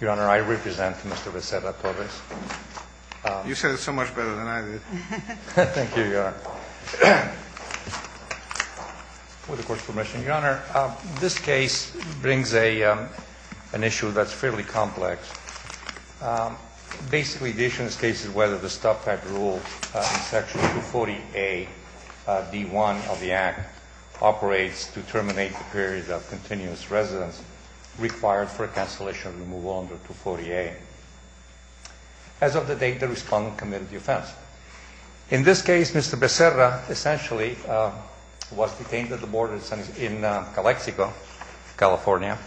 Your Honor, I represent Mr. Becerra-Torres. You said it so much better than I did. Thank you, Your Honor. With the Court's permission, Your Honor, this case brings an issue that's fairly complex. Basically, the issue in this case is whether the Stop-Tag Rule in Section 240A, D-1 of the Act, operates to terminate the period of continuous residence required for a cancellation of removal under 240A. As of the date, the respondent committed the offense. In this case, Mr. Becerra essentially was detained at the border in Calexico, California,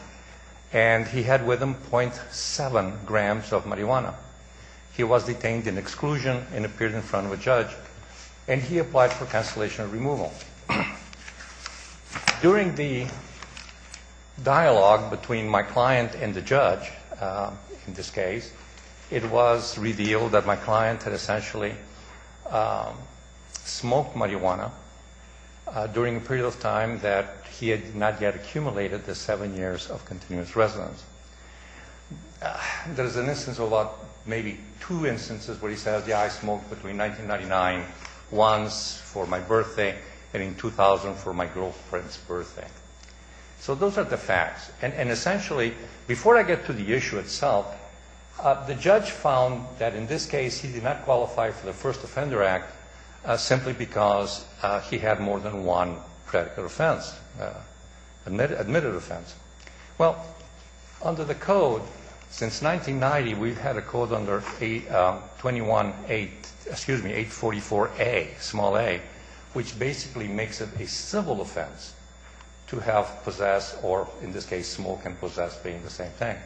and he had with him .7 grams of marijuana. He was detained in exclusion and appeared in front of a judge, and he applied for cancellation of removal. During the dialogue between my client and the judge in this case, it was revealed that my client had essentially smoked marijuana during a period of time that he had not yet accumulated the seven years of continuous residence. There is an instance of about maybe two instances where he said, I smoked between 1999 once for my birthday and in 2000 for my girlfriend's birthday. So those are the facts. And essentially, before I get to the issue itself, the judge found that in this case he did not qualify for the First Offender Act simply because he had more than one predicate offense, admitted offense. Well, under the code, since 1990, we've had a code under 844A, small a, which basically makes it a civil offense to have possessed or, in this case, smoke and possess being the same thing.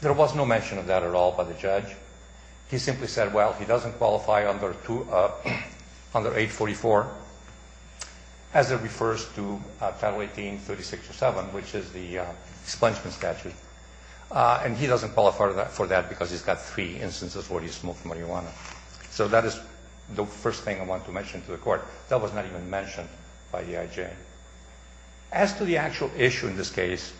There was no mention of that at all by the judge. He simply said, well, he doesn't qualify under 844 as it refers to Title 18-36-7, which is the expungement statute, and he doesn't qualify for that because he's got three instances where he smoked marijuana. So that is the first thing I want to mention to the Court. That was not even mentioned by the IJ. As to the actual issue in this case,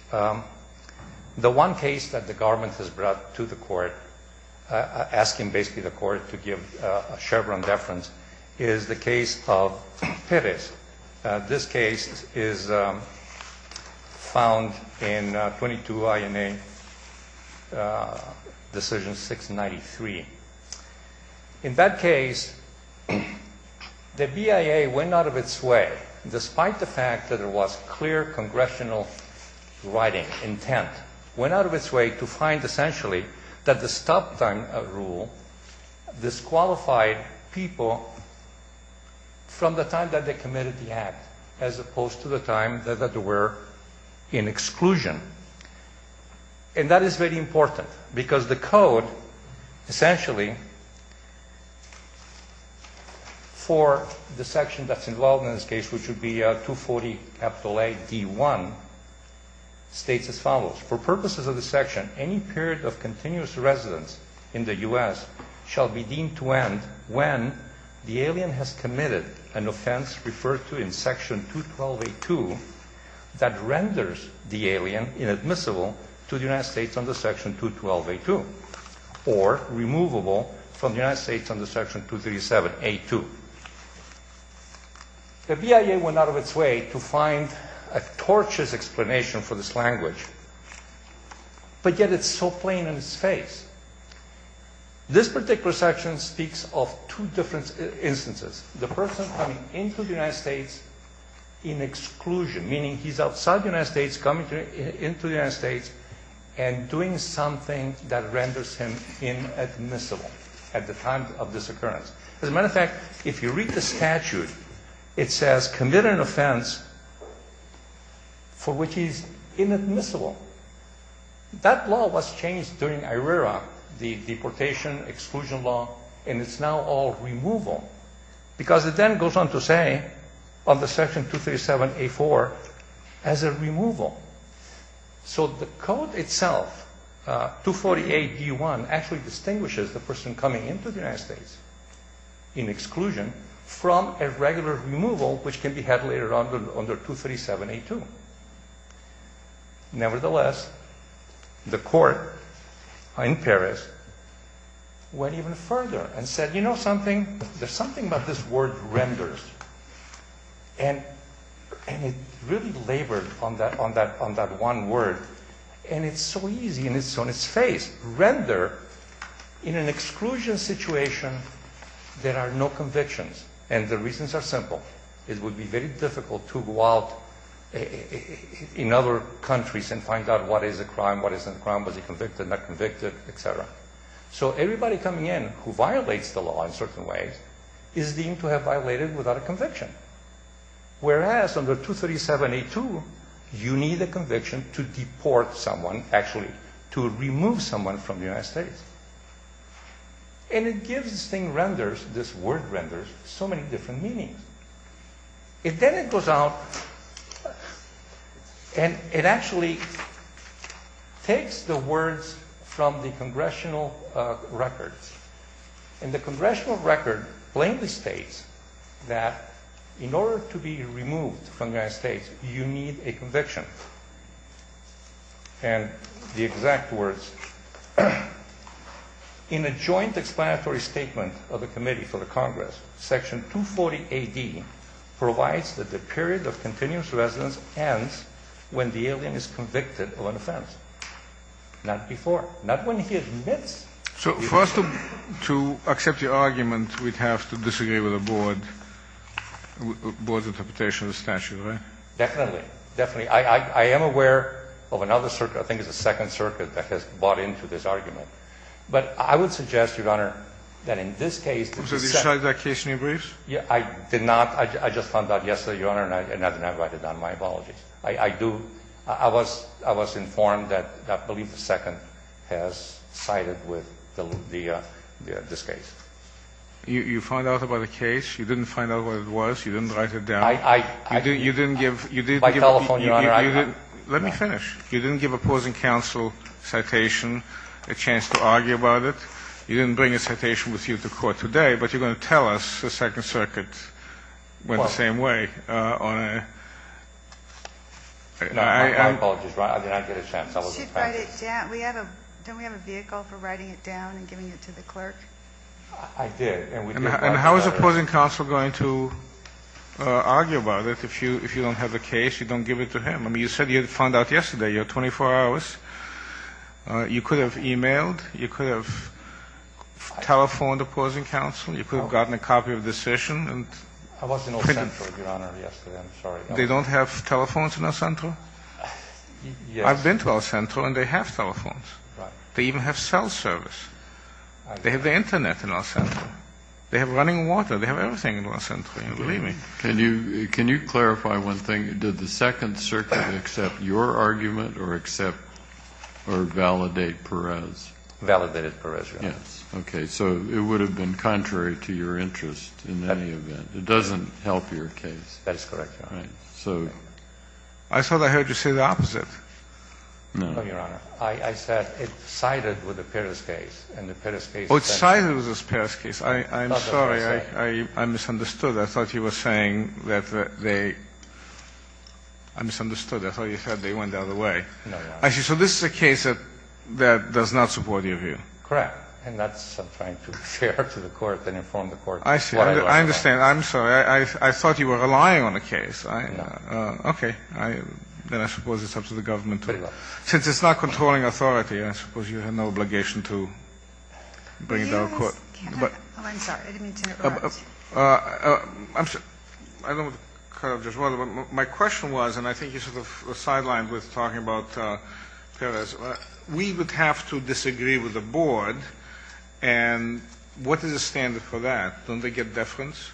the one case that the government has brought to the Court, asking basically the Court to give a Chevron deference, is the case of Perez. This case is found in 22 INA Decision 693. In that case, the BIA went out of its way, despite the fact that there was clear congressional writing intent, went out of its way to find, essentially, that the stop time rule disqualified people from the time that they committed the act as opposed to the time that they were in exclusion. And that is very important because the code, essentially, for the section that's involved in this case, which would be 240 capital A, D1, states as follows. For purposes of this section, any period of continuous residence in the U.S. shall be deemed to end when the alien has committed an offense referred to in Section 212A2 that renders the alien inadmissible to the United States under Section 212A2 or removable from the United States under Section 237A2. The BIA went out of its way to find a tortuous explanation for this language, but yet it's so plain in its face. This particular section speaks of two different instances. The person coming into the United States in exclusion, meaning he's outside the United States, coming into the United States and doing something that renders him inadmissible at the time of this occurrence. As a matter of fact, if you read the statute, it says committed an offense for which he's inadmissible. That law was changed during IRERA, the deportation exclusion law, and it's now all removal because it then goes on to say under Section 237A4 as a removal. So the code itself, 248D1, actually distinguishes the person coming into the United States in exclusion from a regular removal which can be had later on under 237A2. Nevertheless, the court in Paris went even further and said, you know something? There's something about this word renders, and it really labored on that one word, and it's so easy and it's on its face. Render, in an exclusion situation, there are no convictions, and the reasons are simple. It would be very difficult to go out in other countries and find out what is a crime, what isn't a crime, was he convicted, not convicted, et cetera. So everybody coming in who violates the law in certain ways is deemed to have violated without a conviction, whereas under 237A2, you need a conviction to deport someone, actually to remove someone from the United States. And it gives this thing renders, this word renders, so many different meanings. And then it goes out and it actually takes the words from the congressional records, and the congressional record plainly states that in order to be removed from the United States, you need a conviction, and the exact words, in a joint explanatory statement of the committee for the Congress, section 240AD provides that the period of continuous residence ends when the alien is convicted of an offense, not before, not when he admits. So for us to accept your argument, we'd have to disagree with the board's interpretation of the statute, right? Definitely, definitely. I am aware of another circuit, I think it's the Second Circuit, that has bought into this argument. But I would suggest, Your Honor, that in this case- Did you cite that case in your briefs? I did not. I just found out yesterday, Your Honor, and I did not write it down. My apologies. I was informed that I believe the Second has cited this case. You found out about the case? You didn't find out what it was? You didn't write it down? You didn't give- By telephone, Your Honor, I- Let me finish. You didn't give opposing counsel citation, a chance to argue about it? You didn't bring a citation with you to court today, but you're going to tell us the Second Circuit went the same way on a- No, my apologies. I did not get a chance. I was- You should write it down. We have a- don't we have a vehicle for writing it down and giving it to the clerk? I did, and we did- And how is opposing counsel going to argue about it if you don't have the case, you don't give it to him? I mean, you said you had found out yesterday. You have 24 hours. You could have emailed. You could have telephoned opposing counsel. You could have gotten a copy of the session and- I was in El Centro, Your Honor, yesterday. I'm sorry. They don't have telephones in El Centro? Yes. I've been to El Centro, and they have telephones. Right. They even have cell service. They have the Internet in El Centro. They have running water. They have everything in El Centro. Believe me. Can you clarify one thing? Did the Second Circuit accept your argument or accept or validate Perez? Validated Perez, Your Honor. Yes. Okay. So it would have been contrary to your interest in any event. It doesn't help your case. That is correct, Your Honor. Right. So- I thought I heard you say the opposite. No. No, Your Honor. I said it sided with the Perez case, and the Perez case- Oh, it sided with the Perez case. I'm sorry. I misunderstood. I thought you were saying that they-I misunderstood. I thought you said they went the other way. No, Your Honor. I see. So this is a case that does not support your view. Correct. And that's what I'm trying to share to the Court and inform the Court- I see. I understand. I'm sorry. I thought you were relying on the case. Okay. Then I suppose it's up to the government to- Since it's not controlling authority, I suppose you have no obligation to bring it to the Court. I'm sorry. I didn't mean to interrupt. I'm sorry. I don't want to cut off Judge Waldo. My question was, and I think you sort of sidelined with talking about Perez. We would have to disagree with the Board, and what is the standard for that? Don't they get deference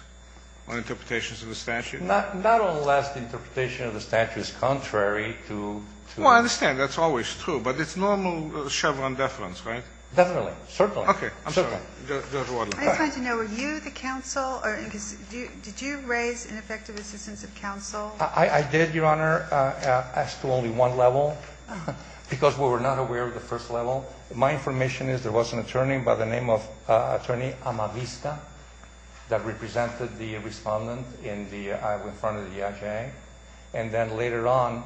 on interpretations of the statute? Not unless the interpretation of the statute is contrary to- Well, I understand. That's always true. But it's normal Chevron deference, right? Definitely. Certainly. Okay. I'm sorry. Judge Waldo. I just wanted to know, were you the counsel? Did you raise ineffective assistance of counsel? I did, Your Honor, as to only one level because we were not aware of the first level. My information is there was an attorney by the name of Attorney Amavista that represented the respondent in front of the IJA. And then later on,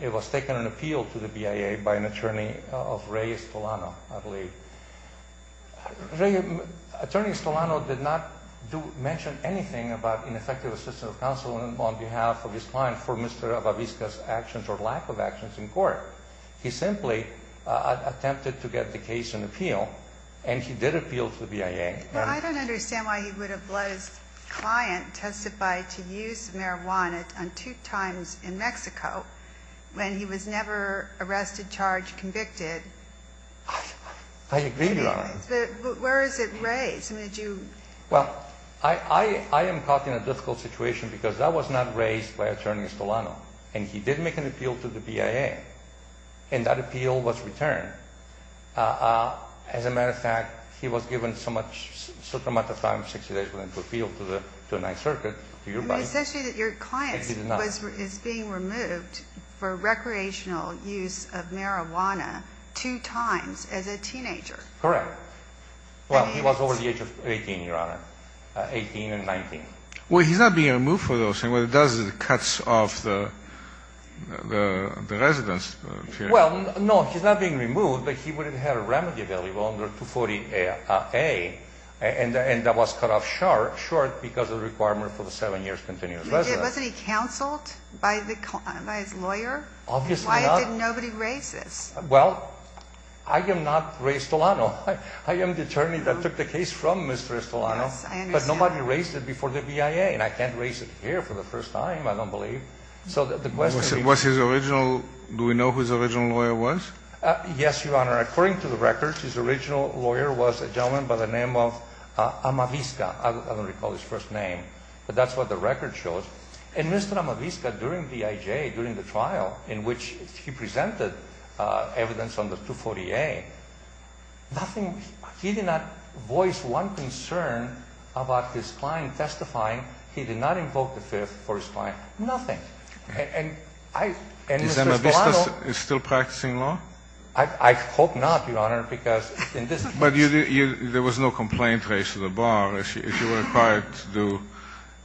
it was taken in appeal to the BIA by an attorney of Ray Estolano, I believe. Attorney Estolano did not mention anything about ineffective assistance of counsel on behalf of his client for Mr. Amavista's actions or lack of actions in court. He simply attempted to get the case in appeal, and he did appeal to the BIA. Well, I don't understand why he would have let his client testify to use marijuana on two times in Mexico when he was never arrested, charged, convicted. I agree, Your Honor. But where is it raised? I mean, did you- Well, I am caught in a difficult situation because that was not raised by Attorney Estolano, and he did make an appeal to the BIA, and that appeal was returned. As a matter of fact, he was given so much, so much time, 60 days for him to appeal to the 9th Circuit. I mean, it says here that your client is being removed for recreational use of marijuana two times as a teenager. Correct. Well, he was over the age of 18, Your Honor, 18 and 19. Well, he's not being removed for those things. What it does is it cuts off the residence period. Well, no, he's not being removed, but he would have had a remedy available under 240A, and that was cut off short because of the requirement for the 7 years continuous residence. Wasn't he counseled by his lawyer? Obviously not. Why did nobody raise this? Well, I did not raise Estolano. I am the attorney that took the case from Mr. Estolano. Yes, I understand. But nobody raised it before the BIA, and I can't raise it here for the first time, I don't believe. Do we know who his original lawyer was? Yes, Your Honor. According to the records, his original lawyer was a gentleman by the name of Amavisca. I don't recall his first name, but that's what the record shows. And Mr. Amavisca, during BIA, during the trial in which he presented evidence under 240A, nothing, he did not voice one concern about his client testifying. He did not invoke the 5th for his client. Nothing. And Mr. Estolano. Is Amavisca still practicing law? I hope not, Your Honor, because in this case. But there was no complaint raised to the bar if you were required to do,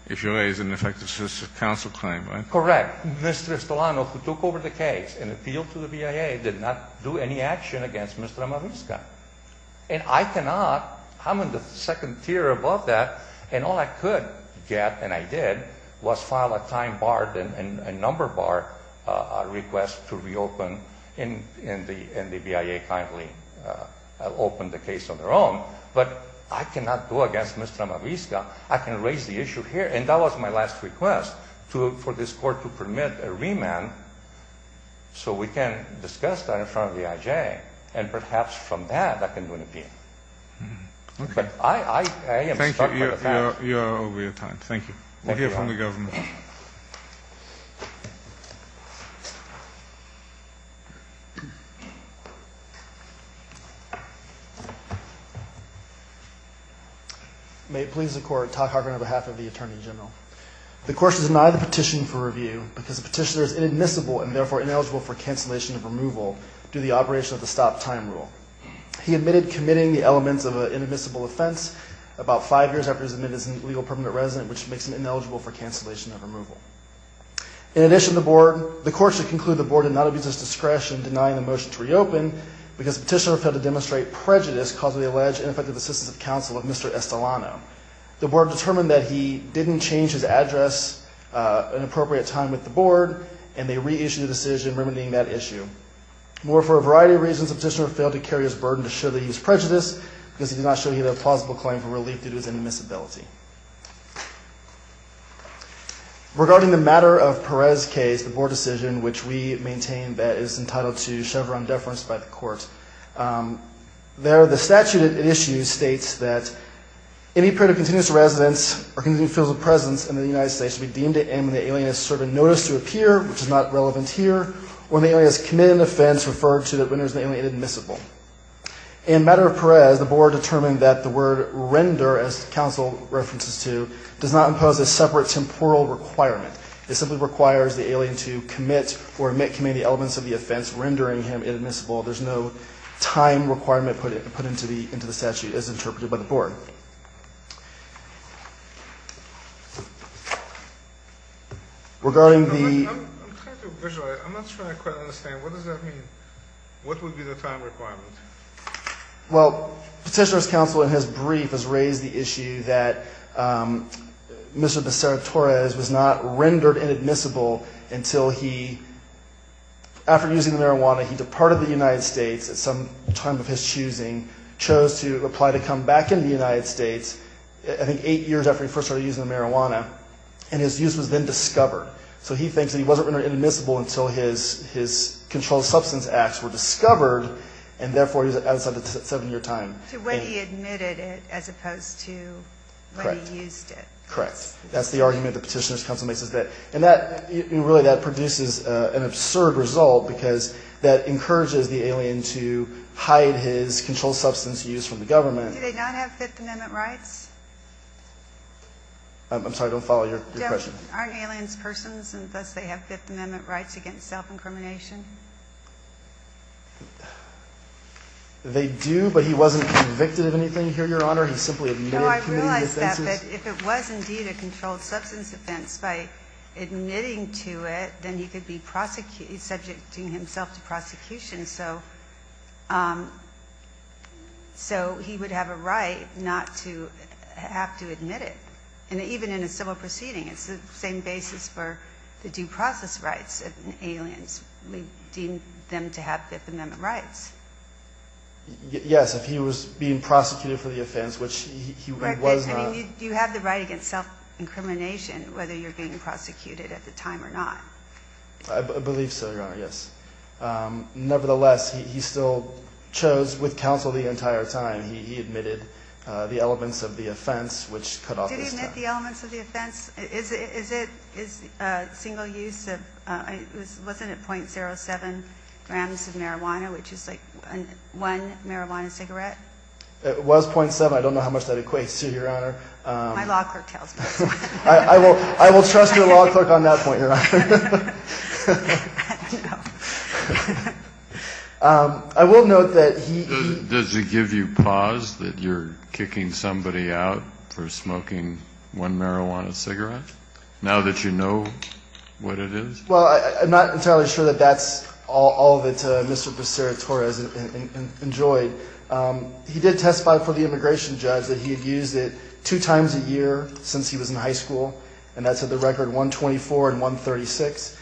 if you raised an effective counsel claim, right? Correct. Mr. Estolano, who took over the case and appealed to the BIA, did not do any action against Mr. Amavisca. And I cannot, I'm in the second tier above that, and all I could get, and I did, was file a time bar and a number bar request to reopen and the BIA kindly opened the case on their own. But I cannot go against Mr. Amavisca. I can raise the issue here, and that was my last request, for this Court to permit a remand so we can discuss that in front of the IJ. And perhaps from that, I can do an appeal. Okay. I am stuck with that. Thank you. You are over your time. Thank you. Thank you, Your Honor. We'll hear from the government. May it please the Court, Todd Hargrove on behalf of the Attorney General. The court should deny the petition for review because the petitioner is inadmissible and therefore ineligible for cancellation of removal due to the operation of the stop-time rule. He admitted committing the elements of an inadmissible offense about five years after he was admitted as an illegal permanent resident, which makes him ineligible for cancellation of removal. In addition, the court should conclude the board did not abuse its discretion in denying the motion to reopen because the petitioner failed to demonstrate prejudice causing the alleged ineffective assistance of counsel of Mr. Estolano. The board determined that he didn't change his address at an appropriate time with the board, and they reissued the decision remedying that issue. Moreover, for a variety of reasons, the petitioner failed to carry his burden to show that he was prejudiced because he did not show either a plausible claim for relief due to his inadmissibility. Regarding the matter of Perez's case, the board decision, which we maintain that is entitled to Chevron deference by the court, there the statute it issues states that any period of continuous residence or continued physical presence in the United States should be deemed to end when the alien has served a notice to appear, which is not relevant here, or when the alien has committed an offense referred to that renders the alien inadmissible. In the matter of Perez, the board determined that the word render, as counsel references to, does not impose a separate temporal requirement. It simply requires the alien to commit or commit the elements of the offense rendering him inadmissible. There's no time requirement put into the statute as interpreted by the board. Regarding the... I'm trying to visualize. I'm not sure I quite understand. What does that mean? What would be the time requirement? Well, petitioner's counsel in his brief has raised the issue that Mr. Becerra-Torres was not rendered inadmissible until he, after using the marijuana, he departed the United States at some time of his choosing, chose to apply to come back into the United States, I think eight years after he first started using the marijuana, and his use was then discovered. So he thinks that he wasn't rendered inadmissible until his controlled substance acts were discovered, and therefore he's outside the seven-year time. To when he admitted it as opposed to when he used it. Correct. That's the argument the petitioner's counsel makes. And really that produces an absurd result because that encourages the alien to hide his controlled substance use from the government. Do they not have Fifth Amendment rights? I'm sorry, I don't follow your question. Aren't aliens persons, and thus they have Fifth Amendment rights against self-incrimination? They do, but he wasn't convicted of anything here, Your Honor. He simply admitted committing the offenses. No, I realize that, but if it was indeed a controlled substance offense, by admitting to it, then he could be subject to himself to prosecution. So he would have a right not to have to admit it. And even in a civil proceeding, it's the same basis for the due process rights of aliens. We deem them to have Fifth Amendment rights. Yes, if he was being prosecuted for the offense, which he was not. Do you have the right against self-incrimination, whether you're being prosecuted at the time or not? I believe so, Your Honor, yes. Nevertheless, he still chose with counsel the entire time. He admitted the elements of the offense, which cut off his time. Did he admit the elements of the offense? Is it single use? Wasn't it .07 grams of marijuana, which is like one marijuana cigarette? It was .07. I don't know how much that equates to, Your Honor. My law clerk tells me. I will trust your law clerk on that point, Your Honor. I will note that he — Does it give you pause that you're kicking somebody out for smoking one marijuana cigarette, now that you know what it is? Well, I'm not entirely sure that that's all that Mr. Becerra-Torres enjoyed. He did testify before the immigration judge that he had used it two times a year since he was in high school, and that's at the record 124 and 136.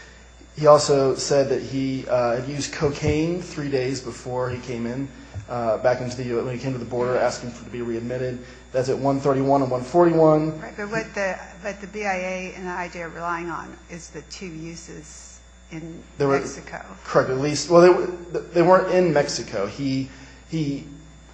He also said that he had used cocaine three days before he came in, back into the — when he came to the border, asking to be readmitted. That's at 131 and 141. Right, but what the BIA and the IJ are relying on is the two uses in Mexico. Correct. Well, they weren't in Mexico. He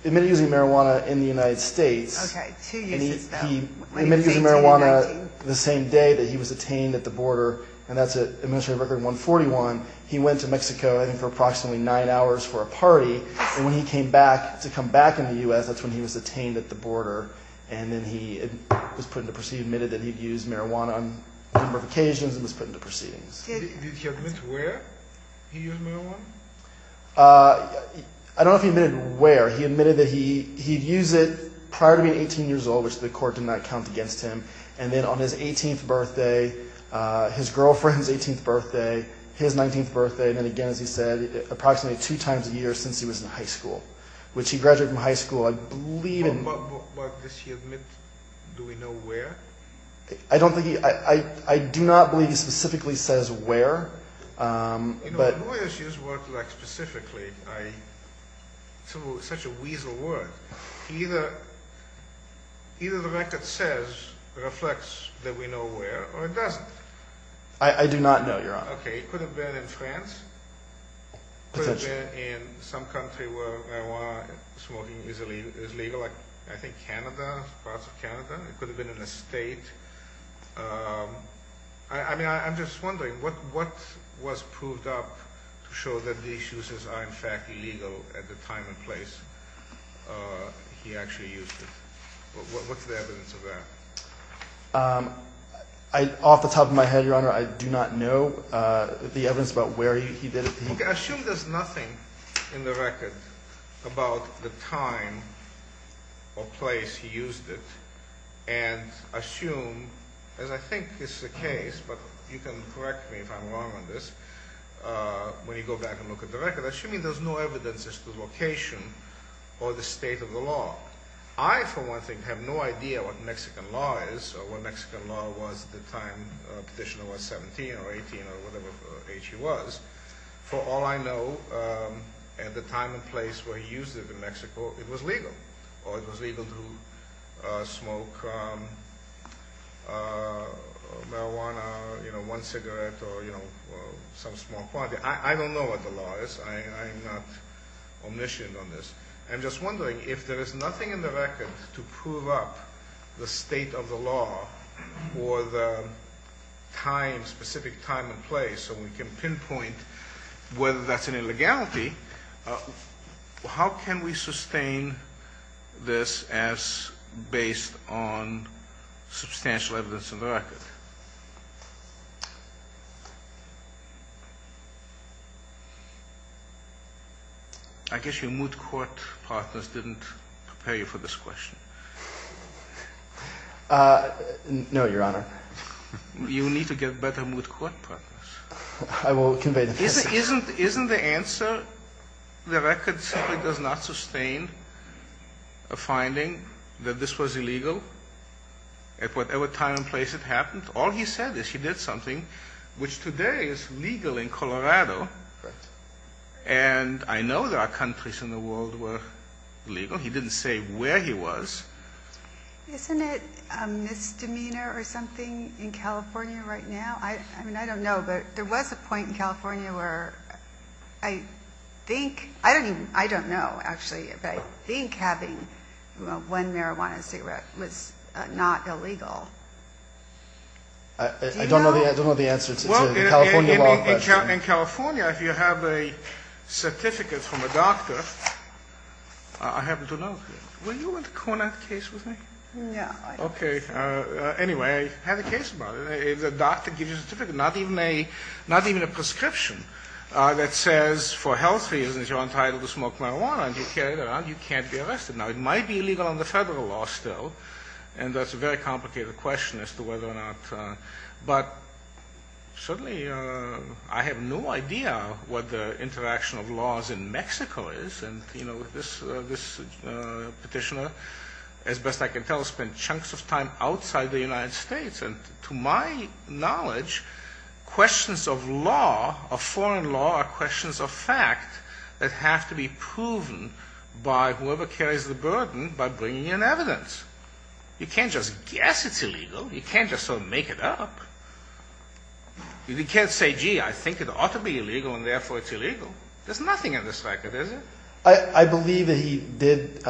admitted using marijuana in the United States. Okay, two uses, though. He admitted using marijuana the same day that he was detained at the border, and that's at administrative record 141. He went to Mexico, I think, for approximately nine hours for a party, and when he came back to come back in the U.S., that's when he was detained at the border, and then he admitted that he'd used marijuana on a number of occasions and was put into proceedings. Did he admit where he used marijuana? I don't know if he admitted where. He admitted that he'd used it prior to being 18 years old, which the court did not count against him, and then on his 18th birthday, his girlfriend's 18th birthday, his 19th birthday, and then again, as he said, approximately two times a year since he was in high school, which he graduated from high school, I believe. But does he admit, do we know where? I do not believe he specifically says where. You know, lawyers use words like specifically. It's such a weasel word. Either the record says, reflects that we know where, or it doesn't. I do not know, Your Honor. Okay, it could have been in France. Potentially. It could have been in some country where marijuana smoking is legal, like I think Canada, parts of Canada. It could have been in a state. I mean, I'm just wondering what was proved up to show that these uses are in fact illegal at the time and place he actually used it. What's the evidence of that? Off the top of my head, Your Honor, I do not know the evidence about where he did it. Okay, I assume there's nothing in the record about the time or place he used it. And I assume, as I think is the case, but you can correct me if I'm wrong on this, when you go back and look at the record, I assume there's no evidence as to the location or the state of the law. I, for one thing, have no idea what Mexican law is or what Mexican law was at the time Petitioner was 17 or 18 or whatever age he was. For all I know, at the time and place where he used it in Mexico, it was legal. Or it was legal to smoke marijuana, you know, one cigarette or, you know, some small quantity. I don't know what the law is. I am not omniscient on this. I'm just wondering if there is nothing in the record to prove up the state of the law or the time, specific time and place, so we can pinpoint whether that's an illegality, how can we sustain this as based on substantial evidence in the record? I guess your moot court partners didn't prepare you for this question. No, Your Honor. You need to get better moot court partners. I will convey the case. Isn't the answer, the record simply does not sustain a finding that this was illegal at whatever time and place it happened? All he said is he did something which today is legal in Colorado. And I know there are countries in the world where it's legal. He didn't say where he was. Isn't it a misdemeanor or something in California right now? I mean, I don't know, but there was a point in California where I think, I don't know actually, but I think having one marijuana cigarette was not illegal. I don't know the answer to the California law question. In California, if you have a certificate from a doctor, I happen to know, were you in the Conant case with me? No. Okay. Anyway, I have a case about it. If the doctor gives you a certificate, not even a prescription that says for health reasons you're entitled to smoke marijuana and you carry it around, you can't be arrested. Now, it might be illegal under federal law still, and that's a very complicated question as to whether or not. But certainly I have no idea what the interaction of laws in Mexico is. And, you know, this petitioner, as best I can tell, spent chunks of time outside the United States. And to my knowledge, questions of law, of foreign law, are questions of fact that have to be proven by whoever carries the burden by bringing in evidence. You can't just guess it's illegal. You can't just sort of make it up. You can't say, gee, I think it ought to be illegal and therefore it's illegal. There's nothing in this record, is there? I believe that he did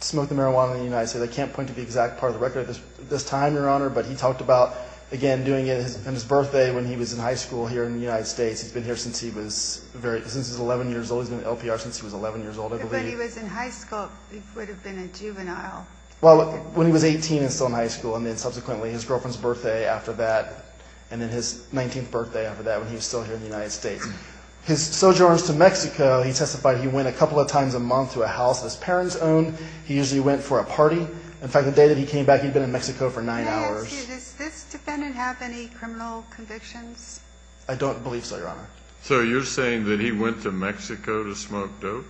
smoke the marijuana in the United States. I can't point to the exact part of the record at this time, Your Honor, but he talked about, again, doing it on his birthday when he was in high school here in the United States. He's been here since he was 11 years old. He's been at LPR since he was 11 years old, I believe. But he was in high school. He would have been a juvenile. Well, when he was 18 and still in high school, and then subsequently his girlfriend's birthday after that, and then his 19th birthday after that when he was still here in the United States. His sojourns to Mexico, he testified he went a couple of times a month to a house his parents owned. He usually went for a party. In fact, the day that he came back, he'd been in Mexico for nine hours. May I ask you, does this defendant have any criminal convictions? I don't believe so, Your Honor. So you're saying that he went to Mexico to smoke dope?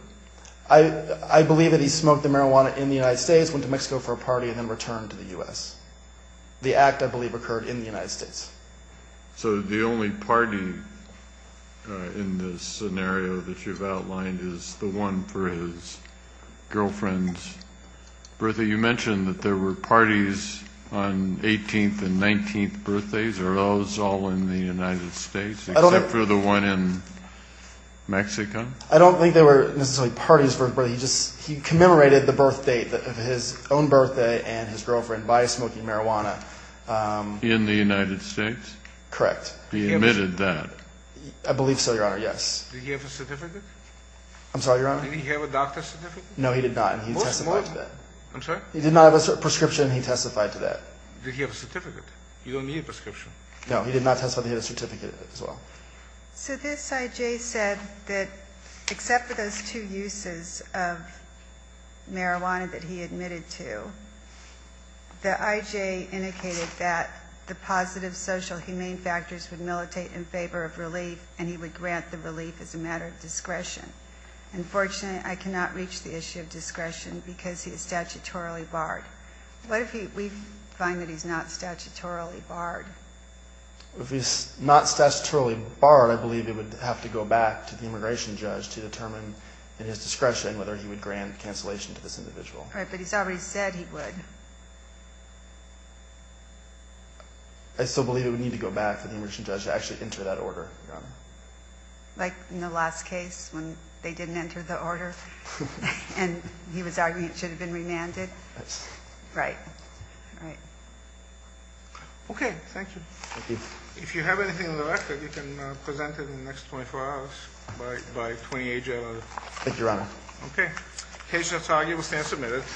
I believe that he smoked the marijuana in the United States, went to Mexico for a party, and then returned to the U.S. The act, I believe, occurred in the United States. So the only party in this scenario that you've outlined is the one for his girlfriend's birthday. You mentioned that there were parties on 18th and 19th birthdays. Are those all in the United States except for the one in Mexico? I don't think there were necessarily parties for his birthday. He just commemorated the birthdate of his own birthday and his girlfriend by smoking marijuana. In the United States? Correct. He admitted that? I believe so, Your Honor, yes. Did he have a certificate? I'm sorry, Your Honor? Did he have a doctor's certificate? No, he did not, and he testified to that. I'm sorry? He did not have a prescription. He testified to that. Did he have a certificate? You don't need a prescription. No, he did not testify that he had a certificate as well. So this I.J. said that except for those two uses of marijuana that he admitted to, the I.J. indicated that the positive social humane factors would militate in favor of relief and he would grant the relief as a matter of discretion. Unfortunately, I cannot reach the issue of discretion because he is statutorily barred. What if we find that he's not statutorily barred? If he's not statutorily barred, I believe it would have to go back to the immigration judge to determine in his discretion whether he would grant cancellation to this individual. Right, but he's already said he would. I still believe it would need to go back to the immigration judge to actually enter that order, Your Honor. Like in the last case when they didn't enter the order and he was arguing it should have been remanded? Right. Okay, thank you. Thank you. If you have anything on the record, you can present it in the next 24 hours by 28 January. Thank you, Your Honor. Okay. Case not argued. We stand submitted.